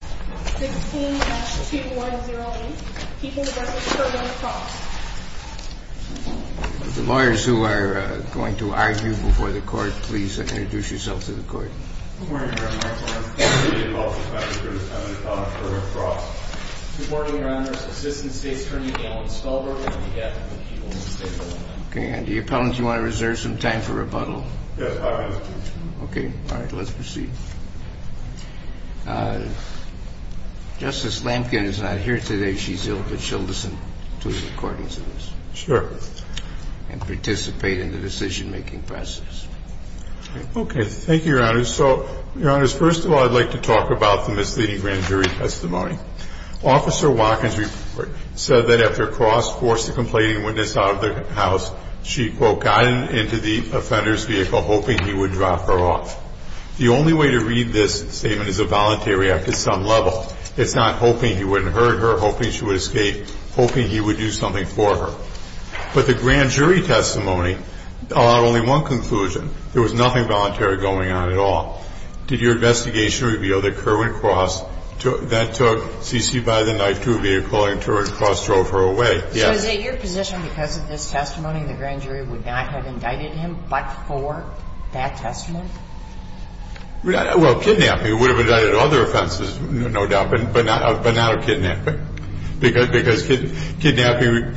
The lawyers who are going to argue before the court, please introduce yourself to the court. Do you want to reserve some time for rebuttal? Okay. All right. Let's proceed. Justice Lampkin is not here today. She's ill, but she'll listen to the recordings of this. Sure. And participate in the decision-making process. Okay. Thank you, Your Honor. So, Your Honor, first of all, I'd like to talk about the misleading grand jury testimony. Officer Watkins said that after Cross forced the complaining witness out of the house, she, quote, got into the offender's vehicle hoping he would drop her off. The only way to read this statement is a voluntary act at some level. It's not hoping he wouldn't hurt her, hoping she would escape, hoping he would do something for her. But the grand jury testimony allowed only one conclusion. There was nothing voluntary going on at all. Did your investigation reveal that Kerwin Cross, that took CC by the knife, threw a vehicle at her and Cross drove her away? Yes. So is it your position because of this testimony the grand jury would not have indicted him but for that testimony? Well, kidnapping would have indicted other offenses, no doubt, but not of kidnapping. Because kidnapping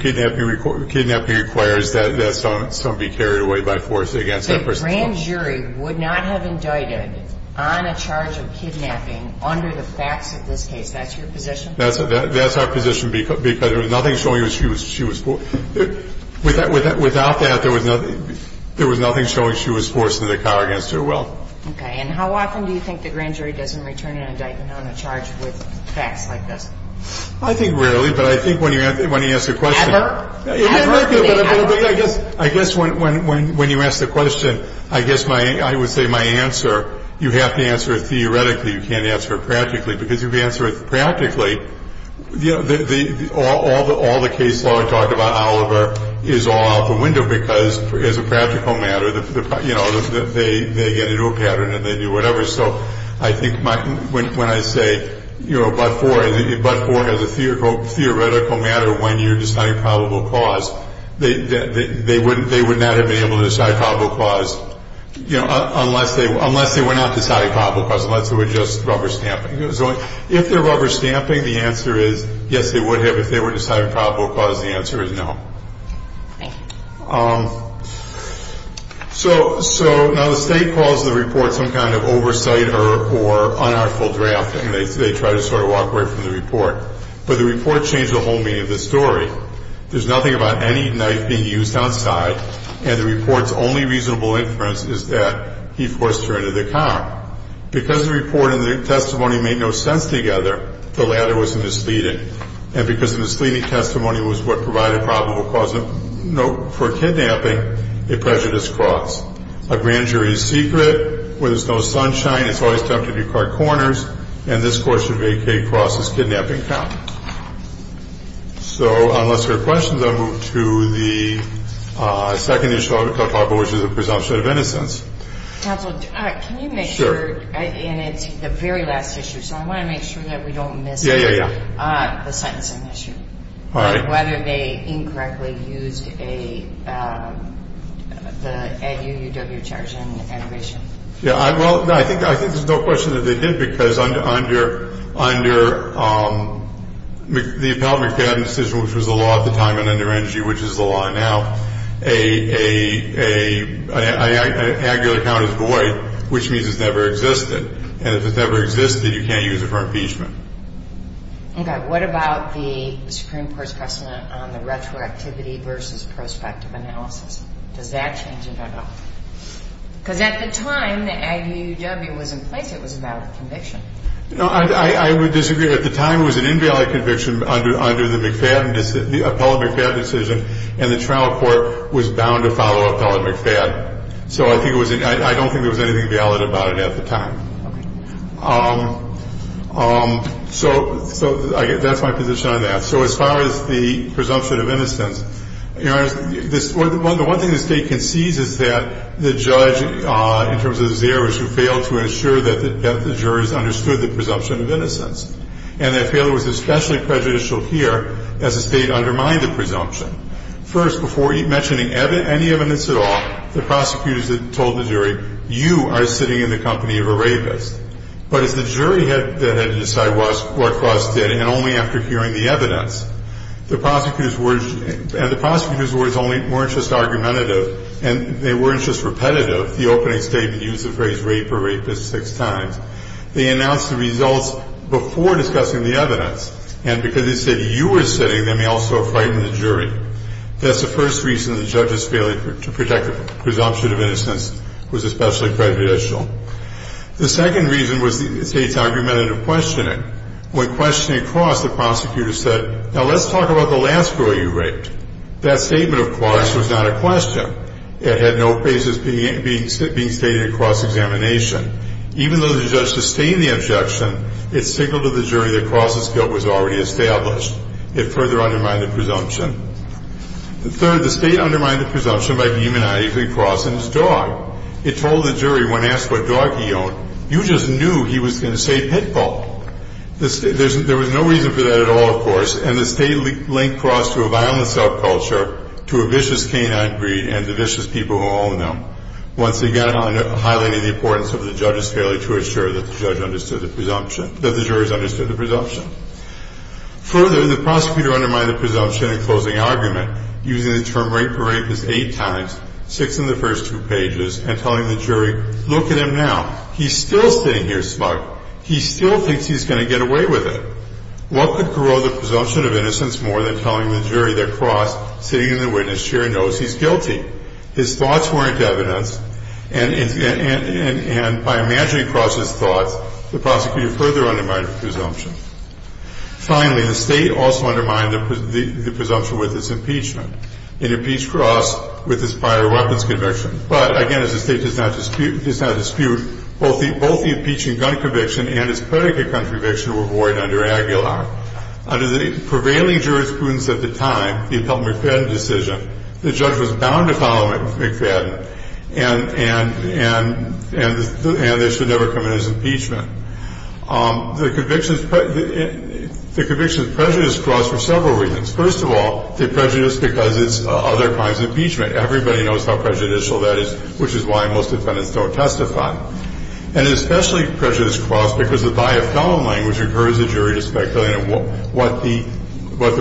requires that someone be carried away by force against that person. The grand jury would not have indicted on a charge of kidnapping under the facts of this case. That's your position? That's our position because there was nothing showing she was forced. Without that, there was nothing showing she was forced into the car against her will. Okay. And how often do you think the grand jury doesn't return an indictment on a charge with facts like this? I think rarely, but I think when you ask the question. Ever? Ever. I guess when you ask the question, I guess I would say my answer, you have to answer it theoretically. You can't answer it practically. Because if you answer it practically, you know, all the case law I talked about, Oliver, is all out the window because as a practical matter, you know, they get into a pattern and they do whatever. So I think when I say, you know, but for as a theoretical matter when you're deciding probable cause, they would not have been able to decide probable cause, you know, unless they were not deciding probable cause, unless it was just rubber stamping. If they're rubber stamping, the answer is yes, they would have. If they were deciding probable cause, the answer is no. Okay. So now the state calls the report some kind of oversight or unartful drafting. They try to sort of walk away from the report. But the report changed the whole meaning of the story. There's nothing about any knife being used outside, and the report's only reasonable inference is that he forced her into the car. Because the report and the testimony made no sense together, the latter was misleading. And because the misleading testimony was what provided probable cause for kidnapping, it pressured his cross. A grand jury is secret. Where there's no sunshine, it's always tempting to card corners. And this court should vacate Cross's kidnapping count. So unless there are questions, I'll move to the second issue, which is the presumption of innocence. Counsel, can you make sure? Sure. And it's the very last issue, so I want to make sure that we don't miss the sentencing issue. All right. And whether they incorrectly used the EDU-UW charge on the admission. Yeah, well, I think there's no question that they didn't, because under the Appellate McFadden decision, which was the law at the time, and under ENERGY, which is the law now, an angular count is void, which means it's never existed. And if it's never existed, you can't use it for impeachment. Okay. What about the Supreme Court's precedent on the retroactivity versus prospective analysis? Does that change it at all? Because at the time the EDU-UW was in place, it was a valid conviction. No, I would disagree. At the time, it was an invalid conviction under the Appellate McFadden decision, and the trial court was bound to follow Appellate McFadden. So I don't think there was anything valid about it at the time. Okay. So that's my position on that. So as far as the presumption of innocence, Your Honor, the one thing the State concedes is that the judge, in terms of Zeres, who failed to ensure that the jurors understood the presumption of innocence, and that failure was especially prejudicial here as the State undermined the presumption. First, before mentioning any evidence at all, the prosecutors had told the jury, you are sitting in the company of a rapist. But as the jury had to decide what Klaus did, and only after hearing the evidence, and the prosecutors' words weren't just argumentative, and they weren't just repetitive, the opening statement used the phrase rape or rapist six times. They announced the results before discussing the evidence, and because they said you were sitting, they may also have frightened the jury. That's the first reason the judge's failure to protect the presumption of innocence was especially prejudicial. The second reason was the State's argumentative questioning. When questioning Klaus, the prosecutor said, now let's talk about the last girl you raped. That statement of Klaus was not a question. It had no basis being stated in Klaus's examination. Even though the judge sustained the objection, it signaled to the jury that Klaus's guilt was already established. It further undermined the presumption. Third, the State undermined the presumption by demonizing Klaus and his dog. It told the jury, when asked what dog he owned, you just knew he was going to say pit bull. There was no reason for that at all, of course, and the State linked Klaus to a violent subculture, to a vicious canine breed, and to vicious people who own them, once again highlighting the importance of the judge's failure to assure that the jury understood the presumption. Further, the prosecutor undermined the presumption in closing argument, using the term rape or rapist eight times, six in the first two pages, and telling the jury, look at him now. He's still sitting here smug. He still thinks he's going to get away with it. What could corrode the presumption of innocence more than telling the jury that Klaus, sitting in the witness chair, knows he's guilty? His thoughts weren't evidence, and by imagining Klaus's thoughts, the prosecutor further undermined the presumption. Finally, the State also undermined the presumption with its impeachment. It impeached Klaus with his prior weapons conviction. But, again, as the State does not dispute, both the impeaching gun conviction and his predicate gun conviction were void under Aguilar. Under the prevailing jurisprudence at the time, the Appellate McFadden decision, the judge was bound to follow McFadden, and this should never come in as impeachment. The convictions prejudice Klaus for several reasons. First of all, they prejudice because it's other crimes of impeachment. Everybody knows how prejudicial that is, which is why most defendants don't testify. And especially prejudice Klaus because the bio-felon language encouraged the jury to speculate what the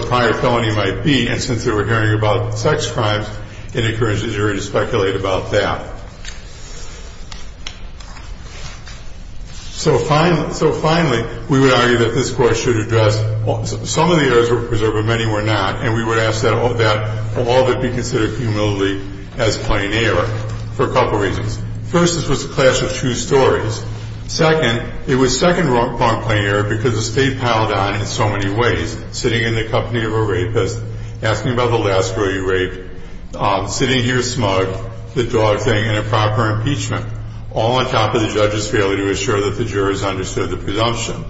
prior felony might be, and since they were hearing about sex crimes, it encouraged the jury to speculate about that. So, finally, we would argue that this Court should address some of the errors of the preserve, but many were not, and we would ask that all of it be considered humbly as plain error for a couple of reasons. First, this was a clash of two stories. Second, it was second-rung plain error because the State piled on in so many ways, sitting in the company of a rapist, asking about the last girl you raped, sitting here smug, the dog thing, and a proper impeachment, all on top of the judge's failure to assure that the jurors understood the presumption.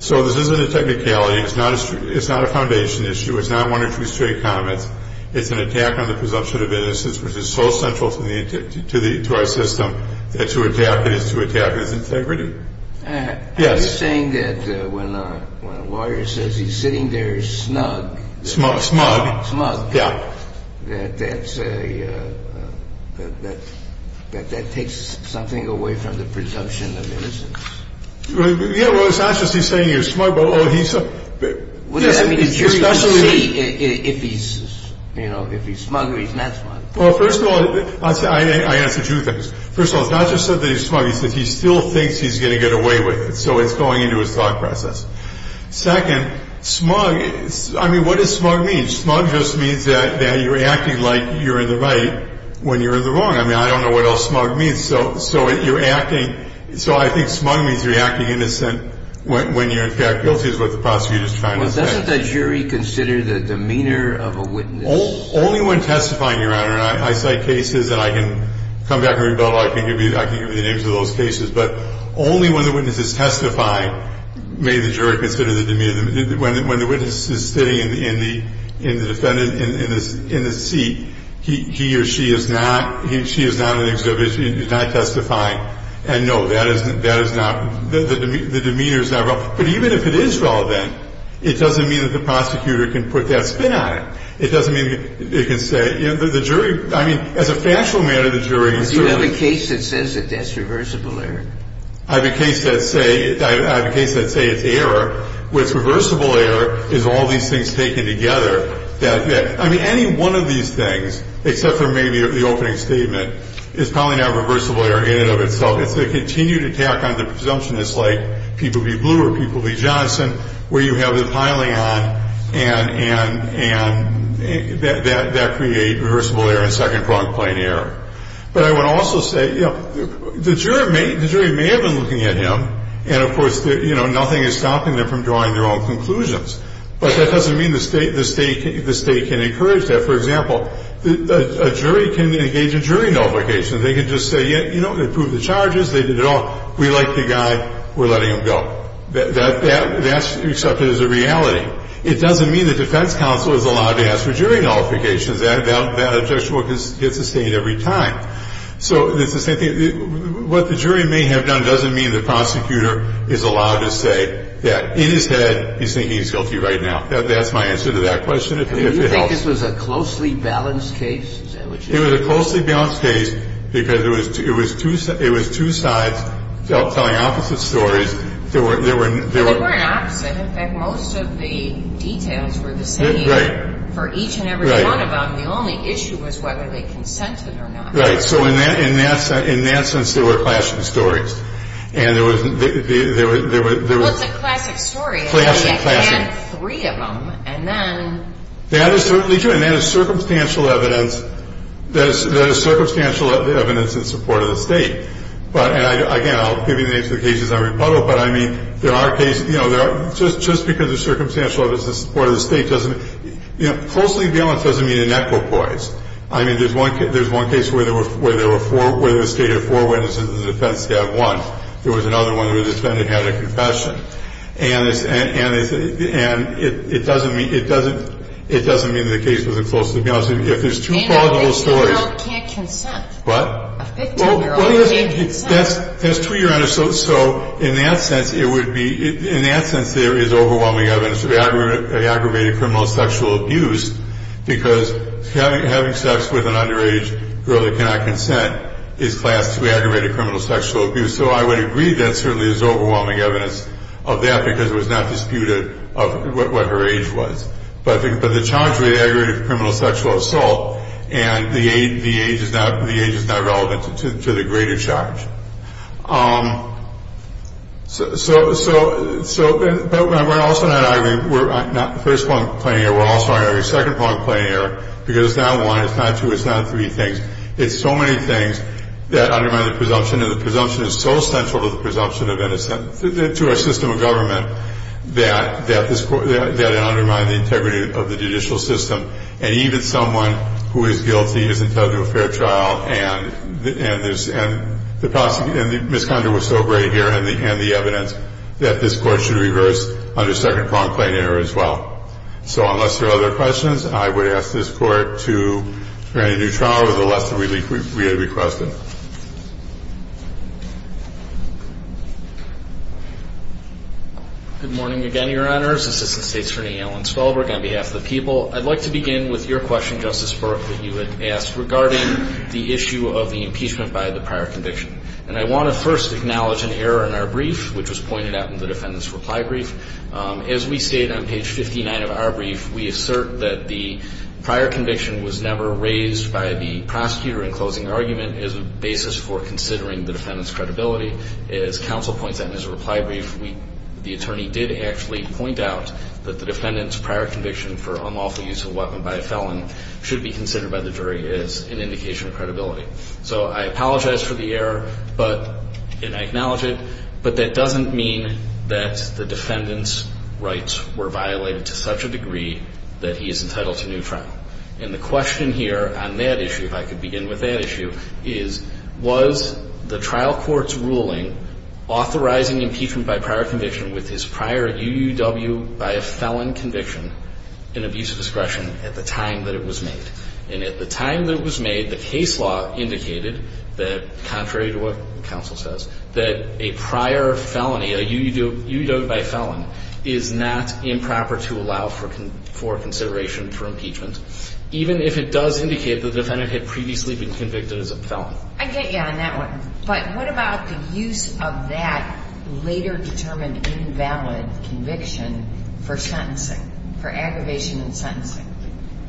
So this isn't a technicality. It's not a foundation issue. It's not one or two straight comments. It's an attack on the presumption of innocence, which is so central to our system, that to attack it is to attack its integrity. Yes. Are you saying that when a lawyer says he's sitting there snug? Smug. Smug. Smug. Yeah. That that's a – that that takes something away from the presumption of innocence? Yeah, well, it's not just he's sitting there smug, but he's – What does that mean? The jury can see if he's – you know, if he's smug or he's not smug. Well, first of all – I answer two things. First of all, it's not just that he's smug. It's that he still thinks he's going to get away with it, so it's going into his thought process. Second, smug – I mean, what does smug mean? Smug just means that you're acting like you're in the right when you're in the wrong. I mean, I don't know what else smug means. So you're acting – so I think smug means you're acting innocent when you're in fact guilty, is what the prosecutor is trying to say. Well, doesn't the jury consider the demeanor of a witness – Only when testifying, Your Honor. I cite cases, and I can come back and rebuttal. I can give you the names of those cases. But only when the witness is testifying may the jury consider the demeanor. When the witness is sitting in the defendant – in the seat, he or she is not – she is not in the exhibit. She is not testifying. And, no, that is not – the demeanor is not relevant. But even if it is relevant, it doesn't mean that the prosecutor can put that spin on it. It doesn't mean it can say – you know, the jury – I mean, as a factual matter, the jury is – But you have a case that says that that's reversible error. I have a case that say – I have a case that say it's error. What's reversible error is all these things taken together that – I mean, any one of these things, except for maybe the opening statement, is probably not reversible error in and of itself. It's a continued attack on the presumption. It's like People v. Blue or People v. Johnson where you have the piling on and that creates reversible error and second-pronged plain error. But I would also say, you know, the jury may have been looking at him. And, of course, you know, nothing is stopping them from drawing their own conclusions. But that doesn't mean the State can encourage that. For example, a jury can engage in jury nullification. They can just say, you know, they proved the charges. They did it all. We like the guy. We're letting him go. That's accepted as a reality. It doesn't mean the defense counsel is allowed to ask for jury nullifications. That objection will get sustained every time. So it's the same thing. What the jury may have done doesn't mean the prosecutor is allowed to say that, in his head, he's thinking he's guilty right now. That's my answer to that question, if it helps. Do you think this was a closely balanced case? It was a closely balanced case because it was two sides telling opposite stories. There were no ñ But they weren't opposite. In fact, most of the details were the same for each and every one of them. Right. The only issue was whether they consented or not. Right. So in that sense, they were clashing stories. And there was ñ Well, it's a classic story. Clashing, clashing. And you had three of them. And then ñ That is certainly true. And there is circumstantial evidence ñ There is circumstantial evidence in support of the State. But ñ and, again, I'll give you the names of the cases I repuddle. But, I mean, there are cases ñ you know, there are ñ Just because there's circumstantial evidence in support of the State doesn't ñ You know, closely balanced doesn't mean anechopoise. I mean, there's one case where there were four ñ where the State had four witnesses and the defense staff one. There was another one who just went and had a confession. And it doesn't mean that the case wasn't closely balanced. If there's two plausible stories ñ And a 15-year-old can't consent. What? A 15-year-old can't consent. Well, there's two, Your Honor. So in that sense, it would be ñ in that sense, there is overwhelming evidence of aggravated criminal sexual abuse because having sex with an underage girl that cannot consent is classed to aggravated criminal sexual abuse. And so I would agree that certainly there's overwhelming evidence of that because it was not disputed of what her age was. But I think ñ but the charge would be aggravated criminal sexual assault and the age is not ñ the age is not relevant to the greater charge. So ñ but we're also not arguing ñ we're not ñ the first point I'm claiming here, we're also arguing the second point I'm claiming here, because it's not one, it's not two, it's not three things. It's so many things that undermine the presumption, and the presumption is so central to the presumption of innocence, to our system of government, that it undermines the integrity of the judicial system. And even someone who is guilty isn't held to a fair trial, and the prosecutor ñ and Ms. Condor was so great here in the evidence that this Court should reverse under second prong claim error as well. So unless there are other questions, I would ask this Court to grant a new trial with the lesser relief we had requested. Good morning again, Your Honors. Assistant State's Attorney Alan Spelberg on behalf of the people. I'd like to begin with your question, Justice Berk, that you had asked regarding the issue of the impeachment by the prior conviction. And I want to first acknowledge an error in our brief, which was pointed out in the defendant's reply brief. As we state on page 59 of our brief, we assert that the prior conviction was never raised by the prosecutor in closing argument as a basis for considering the defendant's credibility. As counsel points out in his reply brief, the attorney did actually point out that the defendant's prior conviction for unlawful use of a weapon by a felon should be considered by the jury as an indication of credibility. So I apologize for the error, and I acknowledge it, but that doesn't mean that the defendant's rights were violated to such a degree that he is entitled to a new trial. And the question here on that issue, if I could begin with that issue, is was the trial court's ruling authorizing impeachment by prior conviction with his prior UUW by a felon conviction an abuse of discretion at the time that it was made? And at the time that it was made, the case law indicated that, contrary to what counsel says, that a prior felony, a UUW by a felon, is not improper to allow for consideration for impeachment, even if it does indicate the defendant had previously been convicted as a felon. I get you on that one. But what about the use of that later determined invalid conviction for sentencing, for aggravation and sentencing?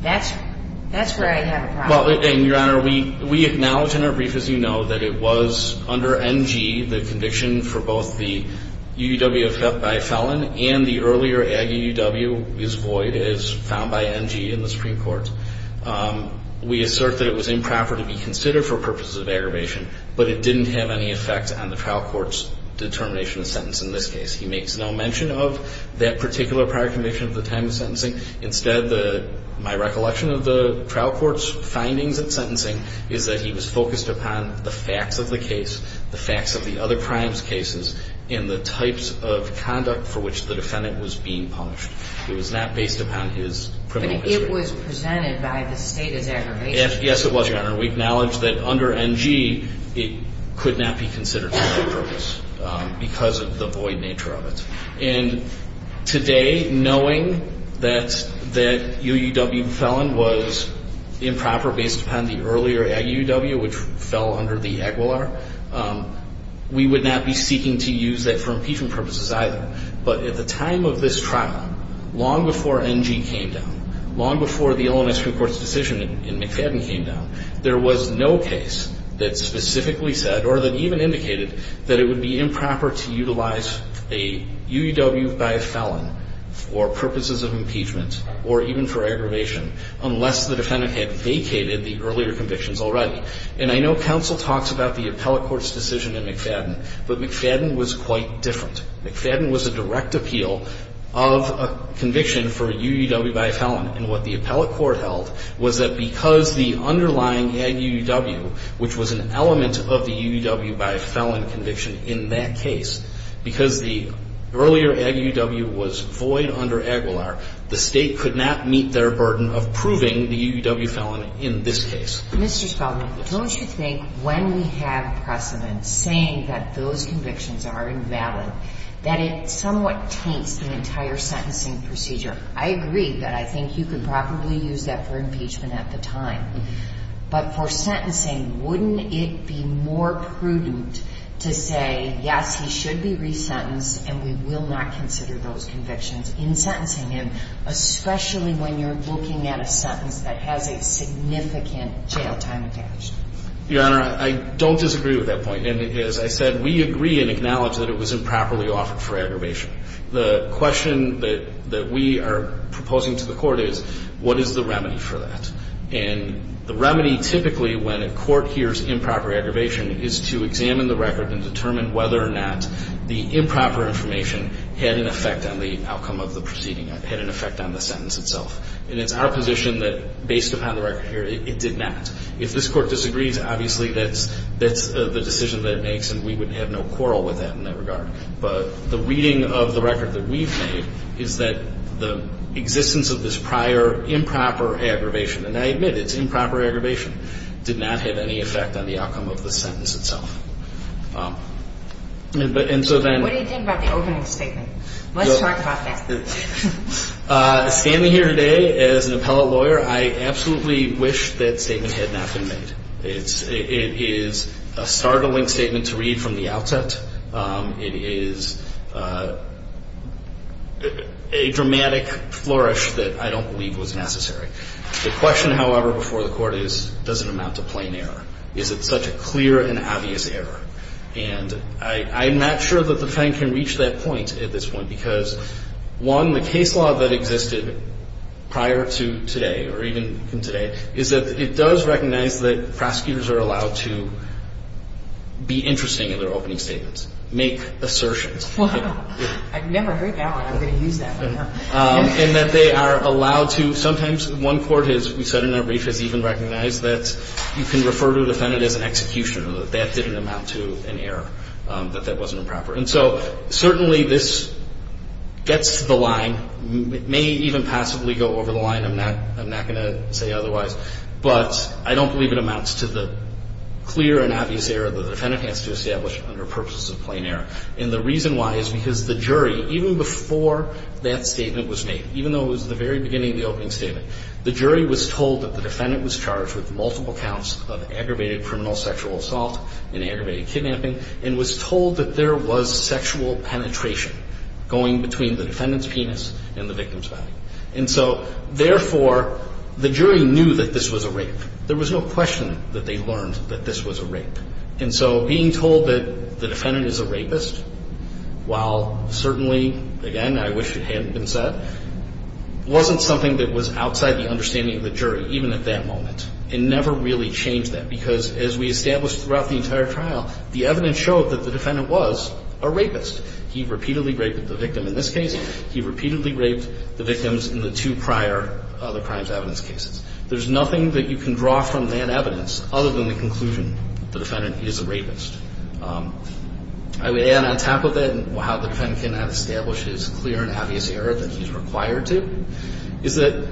That's where I have a problem. Well, Your Honor, we acknowledge in our brief, as you know, that it was under NG, the conviction for both the UUW by a felon and the earlier UUW is void, is found by NG in the Supreme Court. We assert that it was improper to be considered for purposes of aggravation, but it didn't have any effect on the trial court's determination of sentence in this case. He makes no mention of that particular prior conviction at the time of sentencing. Instead, my recollection of the trial court's findings at sentencing is that he was focused upon the facts of the case, the facts of the other crimes cases, and the types of conduct for which the defendant was being punished. It was not based upon his criminal history. But it was presented by the state as aggravation. Yes, it was, Your Honor. We acknowledge that under NG, it could not be considered for that purpose because of the void nature of it. And today, knowing that UUW felon was improper based upon the earlier UUW, which fell under the EGWLAR, we would not be seeking to use that for impeachment purposes either. But at the time of this trial, long before NG came down, long before the Illinois Supreme Court's decision in McFadden came down, there was no case that specifically said or that even indicated that it would be improper to utilize a UUW by a felon for purposes of impeachment or even for aggravation unless the defendant had vacated the earlier convictions already. And I know counsel talks about the appellate court's decision in McFadden, but McFadden was quite different. McFadden was a direct appeal of a conviction for a UUW by a felon. And what the appellate court held was that because the underlying EGUW, which was an element of the UUW by a felon conviction in that case, because the earlier EGUW was void under EGWLAR, the State could not meet their burden of proving the UUW felon in this case. Mr. Spaulding, don't you think when we have precedents saying that those convictions are invalid, that it somewhat taints the entire sentencing procedure? I agree that I think you could probably use that for impeachment at the time. But for sentencing, wouldn't it be more prudent to say, yes, he should be resentenced and we will not consider those convictions in sentencing him, especially when you're looking at a sentence that has a significant jail time attached? Your Honor, I don't disagree with that point. And as I said, we agree and acknowledge that it was improperly offered for aggravation. The question that we are proposing to the court is, what is the remedy for that? And the remedy typically, when a court hears improper aggravation, is to examine the record and determine whether or not the improper information had an effect on the outcome of the proceeding, had an effect on the sentence itself. And it's our position that, based upon the record here, it did not. If this court disagrees, obviously that's the decision that it makes, and we would have no quarrel with that in that regard. But the reading of the record that we've made is that the existence of this prior improper aggravation – and I admit it's improper aggravation – did not have any effect on the outcome of the sentence itself. What do you think about the opening statement? Let's talk about that. Standing here today as an appellate lawyer, I absolutely wish that statement had not been made. It is a startling statement to read from the outset. It is a dramatic flourish that I don't believe was necessary. The question, however, before the Court is, does it amount to plain error? Is it such a clear and obvious error? And I'm not sure that the Defendant can reach that point at this point, because, one, the case law that existed prior to today, or even from today, is that it does recognize that prosecutors are allowed to be interesting in their opening statements, make assertions. Wow. I've never heard that one. I'm going to use that one now. And that they are allowed to – sometimes one court, as we said in our brief, has even recognized that you can refer to a Defendant as an executioner, that that didn't amount to an error, that that wasn't improper. And so certainly this gets to the line. It may even possibly go over the line. I'm not going to say otherwise. But I don't believe it amounts to the clear and obvious error that the Defendant has to establish under purposes of plain error. And the reason why is because the jury, even before that statement was made, even though it was at the very beginning of the opening statement, the jury was told that the Defendant was charged with multiple counts of aggravated criminal sexual assault and aggravated kidnapping, and was told that there was sexual penetration going between the Defendant's penis and the victim's body. And so, therefore, the jury knew that this was a rape. There was no question that they learned that this was a rape. And so being told that the Defendant is a rapist, while certainly, again, I wish it hadn't been said, wasn't something that was outside the understanding of the jury, even at that moment. It never really changed that, because as we established throughout the entire trial, the evidence showed that the Defendant was a rapist. He repeatedly raped the victim in this case. He repeatedly raped the victims in the two prior other crimes evidence cases. There's nothing that you can draw from that evidence other than the conclusion the Defendant is a rapist. I would add on top of that, and how the Defendant cannot establish his clear and obvious error that he's required to, is that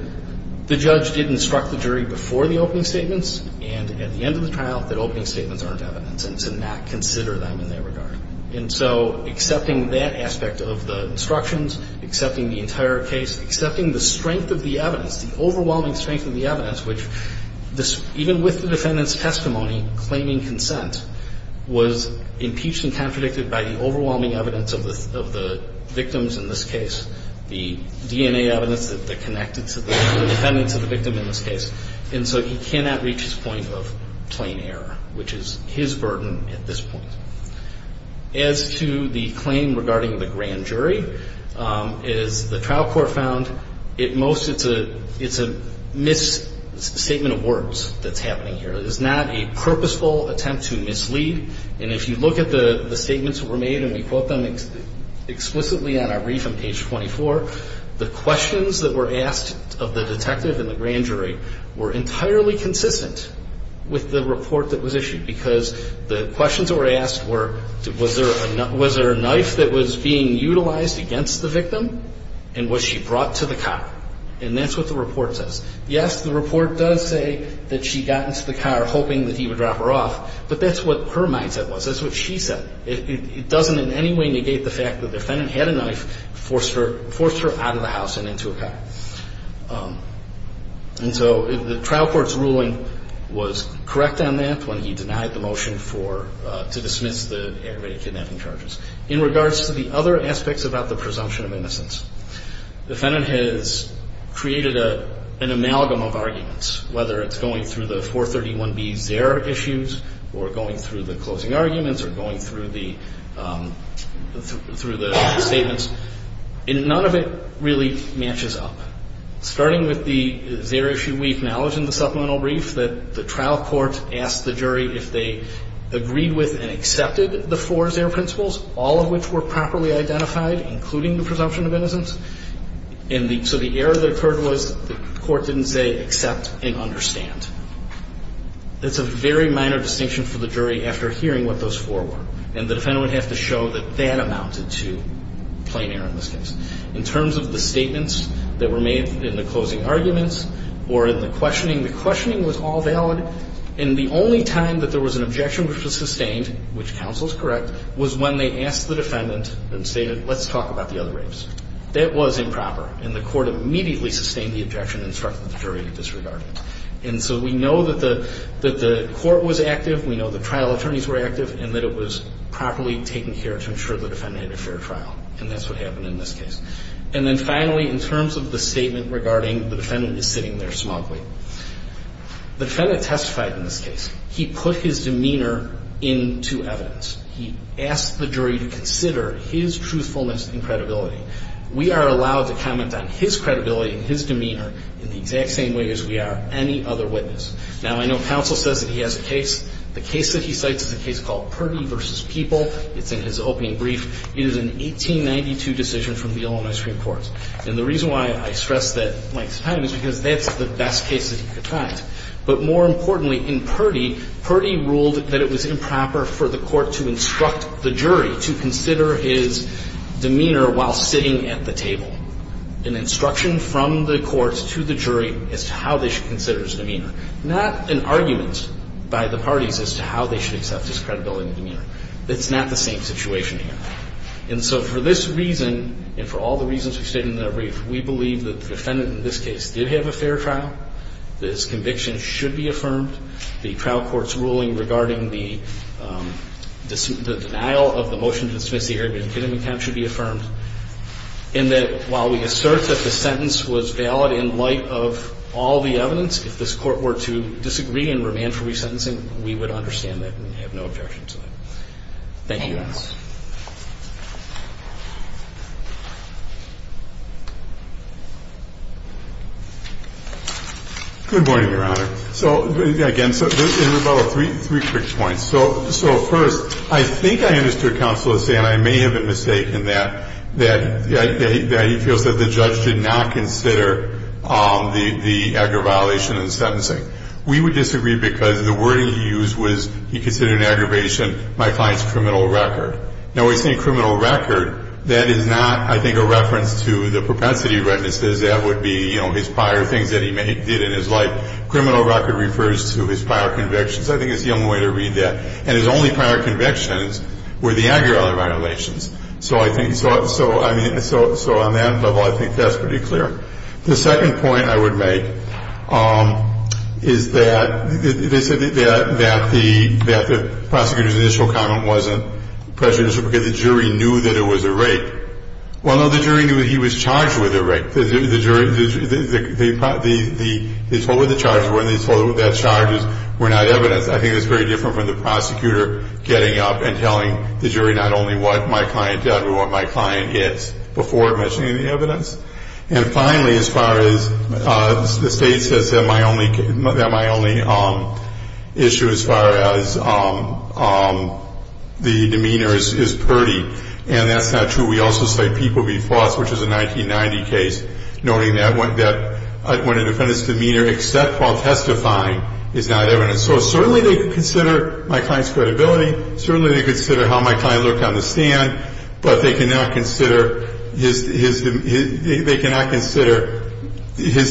the judge did instruct the jury before the opening statements and at the end of the trial that opening statements aren't evidence and to not consider them in that regard. And so accepting that aspect of the instructions, accepting the entire case, accepting the strength of the evidence, the overwhelming strength of the evidence, which even with the Defendant's testimony claiming consent, was impeached and contradicted by the overwhelming evidence of the victims in this case, the DNA evidence that connected to the Defendant to the victim in this case. And so he cannot reach his point of plain error, which is his burden at this point. As to the claim regarding the grand jury, as the trial court found, at most it's a misstatement of words that's happening here. It is not a purposeful attempt to mislead. And if you look at the statements that were made, and we quote them explicitly on our brief on page 24, the questions that were asked of the detective and the grand jury were entirely consistent with the report that was issued because the questions that were asked were, was there a knife that was being utilized against the victim and was she brought to the car? And that's what the report says. Yes, the report does say that she got into the car hoping that he would drop her off, but that's what her mindset was. That's what she said. It doesn't in any way negate the fact that the Defendant had a knife, forced her out of the house and into a car. And so the trial court's ruling was correct on that when he denied the motion to dismiss the aggravated kidnapping charges. In regards to the other aspects about the presumption of innocence, the Defendant has created an amalgam of arguments, whether it's going through the 431B's error issues or going through the closing arguments or going through the statements, and none of it really matches up. Starting with the zero-issue brief, we acknowledge in the supplemental brief that the trial court asked the jury if they agreed with and accepted the four zero principles, all of which were properly identified, including the presumption of innocence. And so the error that occurred was the court didn't say accept and understand. It's a very minor distinction for the jury after hearing what those four were, and the Defendant would have to show that that amounted to plain error in this case. In terms of the statements that were made in the closing arguments or in the questioning, the questioning was all valid, and the only time that there was an objection which was sustained, which counsel is correct, was when they asked the Defendant and stated, let's talk about the other rapes. That was improper, and the court immediately sustained the objection and instructed the jury to disregard it. And so we know that the court was active, we know the trial attorneys were active, and that it was properly taken care of to ensure the Defendant had a fair trial, and that's what happened in this case. And then finally, in terms of the statement regarding the Defendant is sitting there smugly, the Defendant testified in this case. He put his demeanor into evidence. He asked the jury to consider his truthfulness and credibility. We are allowed to comment on his credibility and his demeanor in the exact same way as we are any other witness. Now, I know counsel says that he has a case. The case that he cites is a case called Purdy v. People. It's in his opening brief. It is an 1892 decision from the Illinois Supreme Court. And the reason why I stress that length of time is because that's the best case that he could find. But more importantly, in Purdy, Purdy ruled that it was improper for the court to instruct the jury to consider his demeanor while sitting at the table. An instruction from the courts to the jury as to how they should consider his demeanor. Not an argument by the parties as to how they should accept his credibility and demeanor. It's not the same situation here. And so for this reason, and for all the reasons we've stated in that brief, we believe that the Defendant in this case did have a fair trial, that his conviction should be affirmed. The trial court's ruling regarding the denial of the motion to dismiss the Arrogant Kidding account should be affirmed. And that while we assert that the sentence was valid in light of all the evidence, if this Court were to disagree and remand for resentencing, we would understand Thank you, Your Honor. Good morning, Your Honor. So, again, there's about three quick points. So first, I think I understood Counselor saying, and I may have been mistaken, that he feels that the judge did not consider the aggravation of the sentencing. We would disagree because the wording he used was he considered an aggravation of my client's criminal record. Now, when we say criminal record, that is not, I think, a reference to the propensity of retinaces. That would be, you know, his prior things that he did in his life. Criminal record refers to his prior convictions. I think that's the only way to read that. And his only prior convictions were the Aguirrela violations. So I think, so, I mean, so on that level, I think that's pretty clear. The second point I would make is that they said that the prosecutors initial comment wasn't prejudicial because the jury knew that it was a rape. Well, no, the jury knew he was charged with a rape. The jury, they told what the charges were, and they told that the charges were not evidence. I think that's very different from the prosecutor getting up and telling the jury not only what my client did but what my client is before mentioning the evidence. And finally, as far as the state says that my only issue as far as the demeanor is purdy. And that's not true. We also say people be false, which is a 1990 case, noting that when a defendant's demeanor, except while testifying, is not evidence. So certainly they consider my client's credibility. Certainly they consider how my client looked on the stand. But they cannot consider his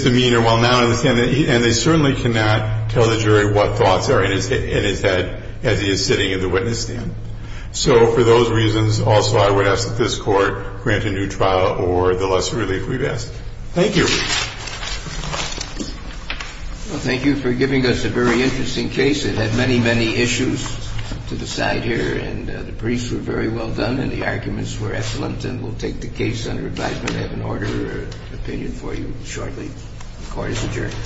demeanor while not on the stand. And they certainly cannot tell the jury what thoughts are in his head as he is sitting in the witness stand. So for those reasons, also, I would ask that this Court grant a new trial or the lesser relief we've asked. Thank you. Well, thank you for giving us a very interesting case. It had many, many issues to the side here. And the briefs were very well done and the arguments were excellent. And we'll take the case under advisement and have an order opinion for you shortly. The Court is adjourned.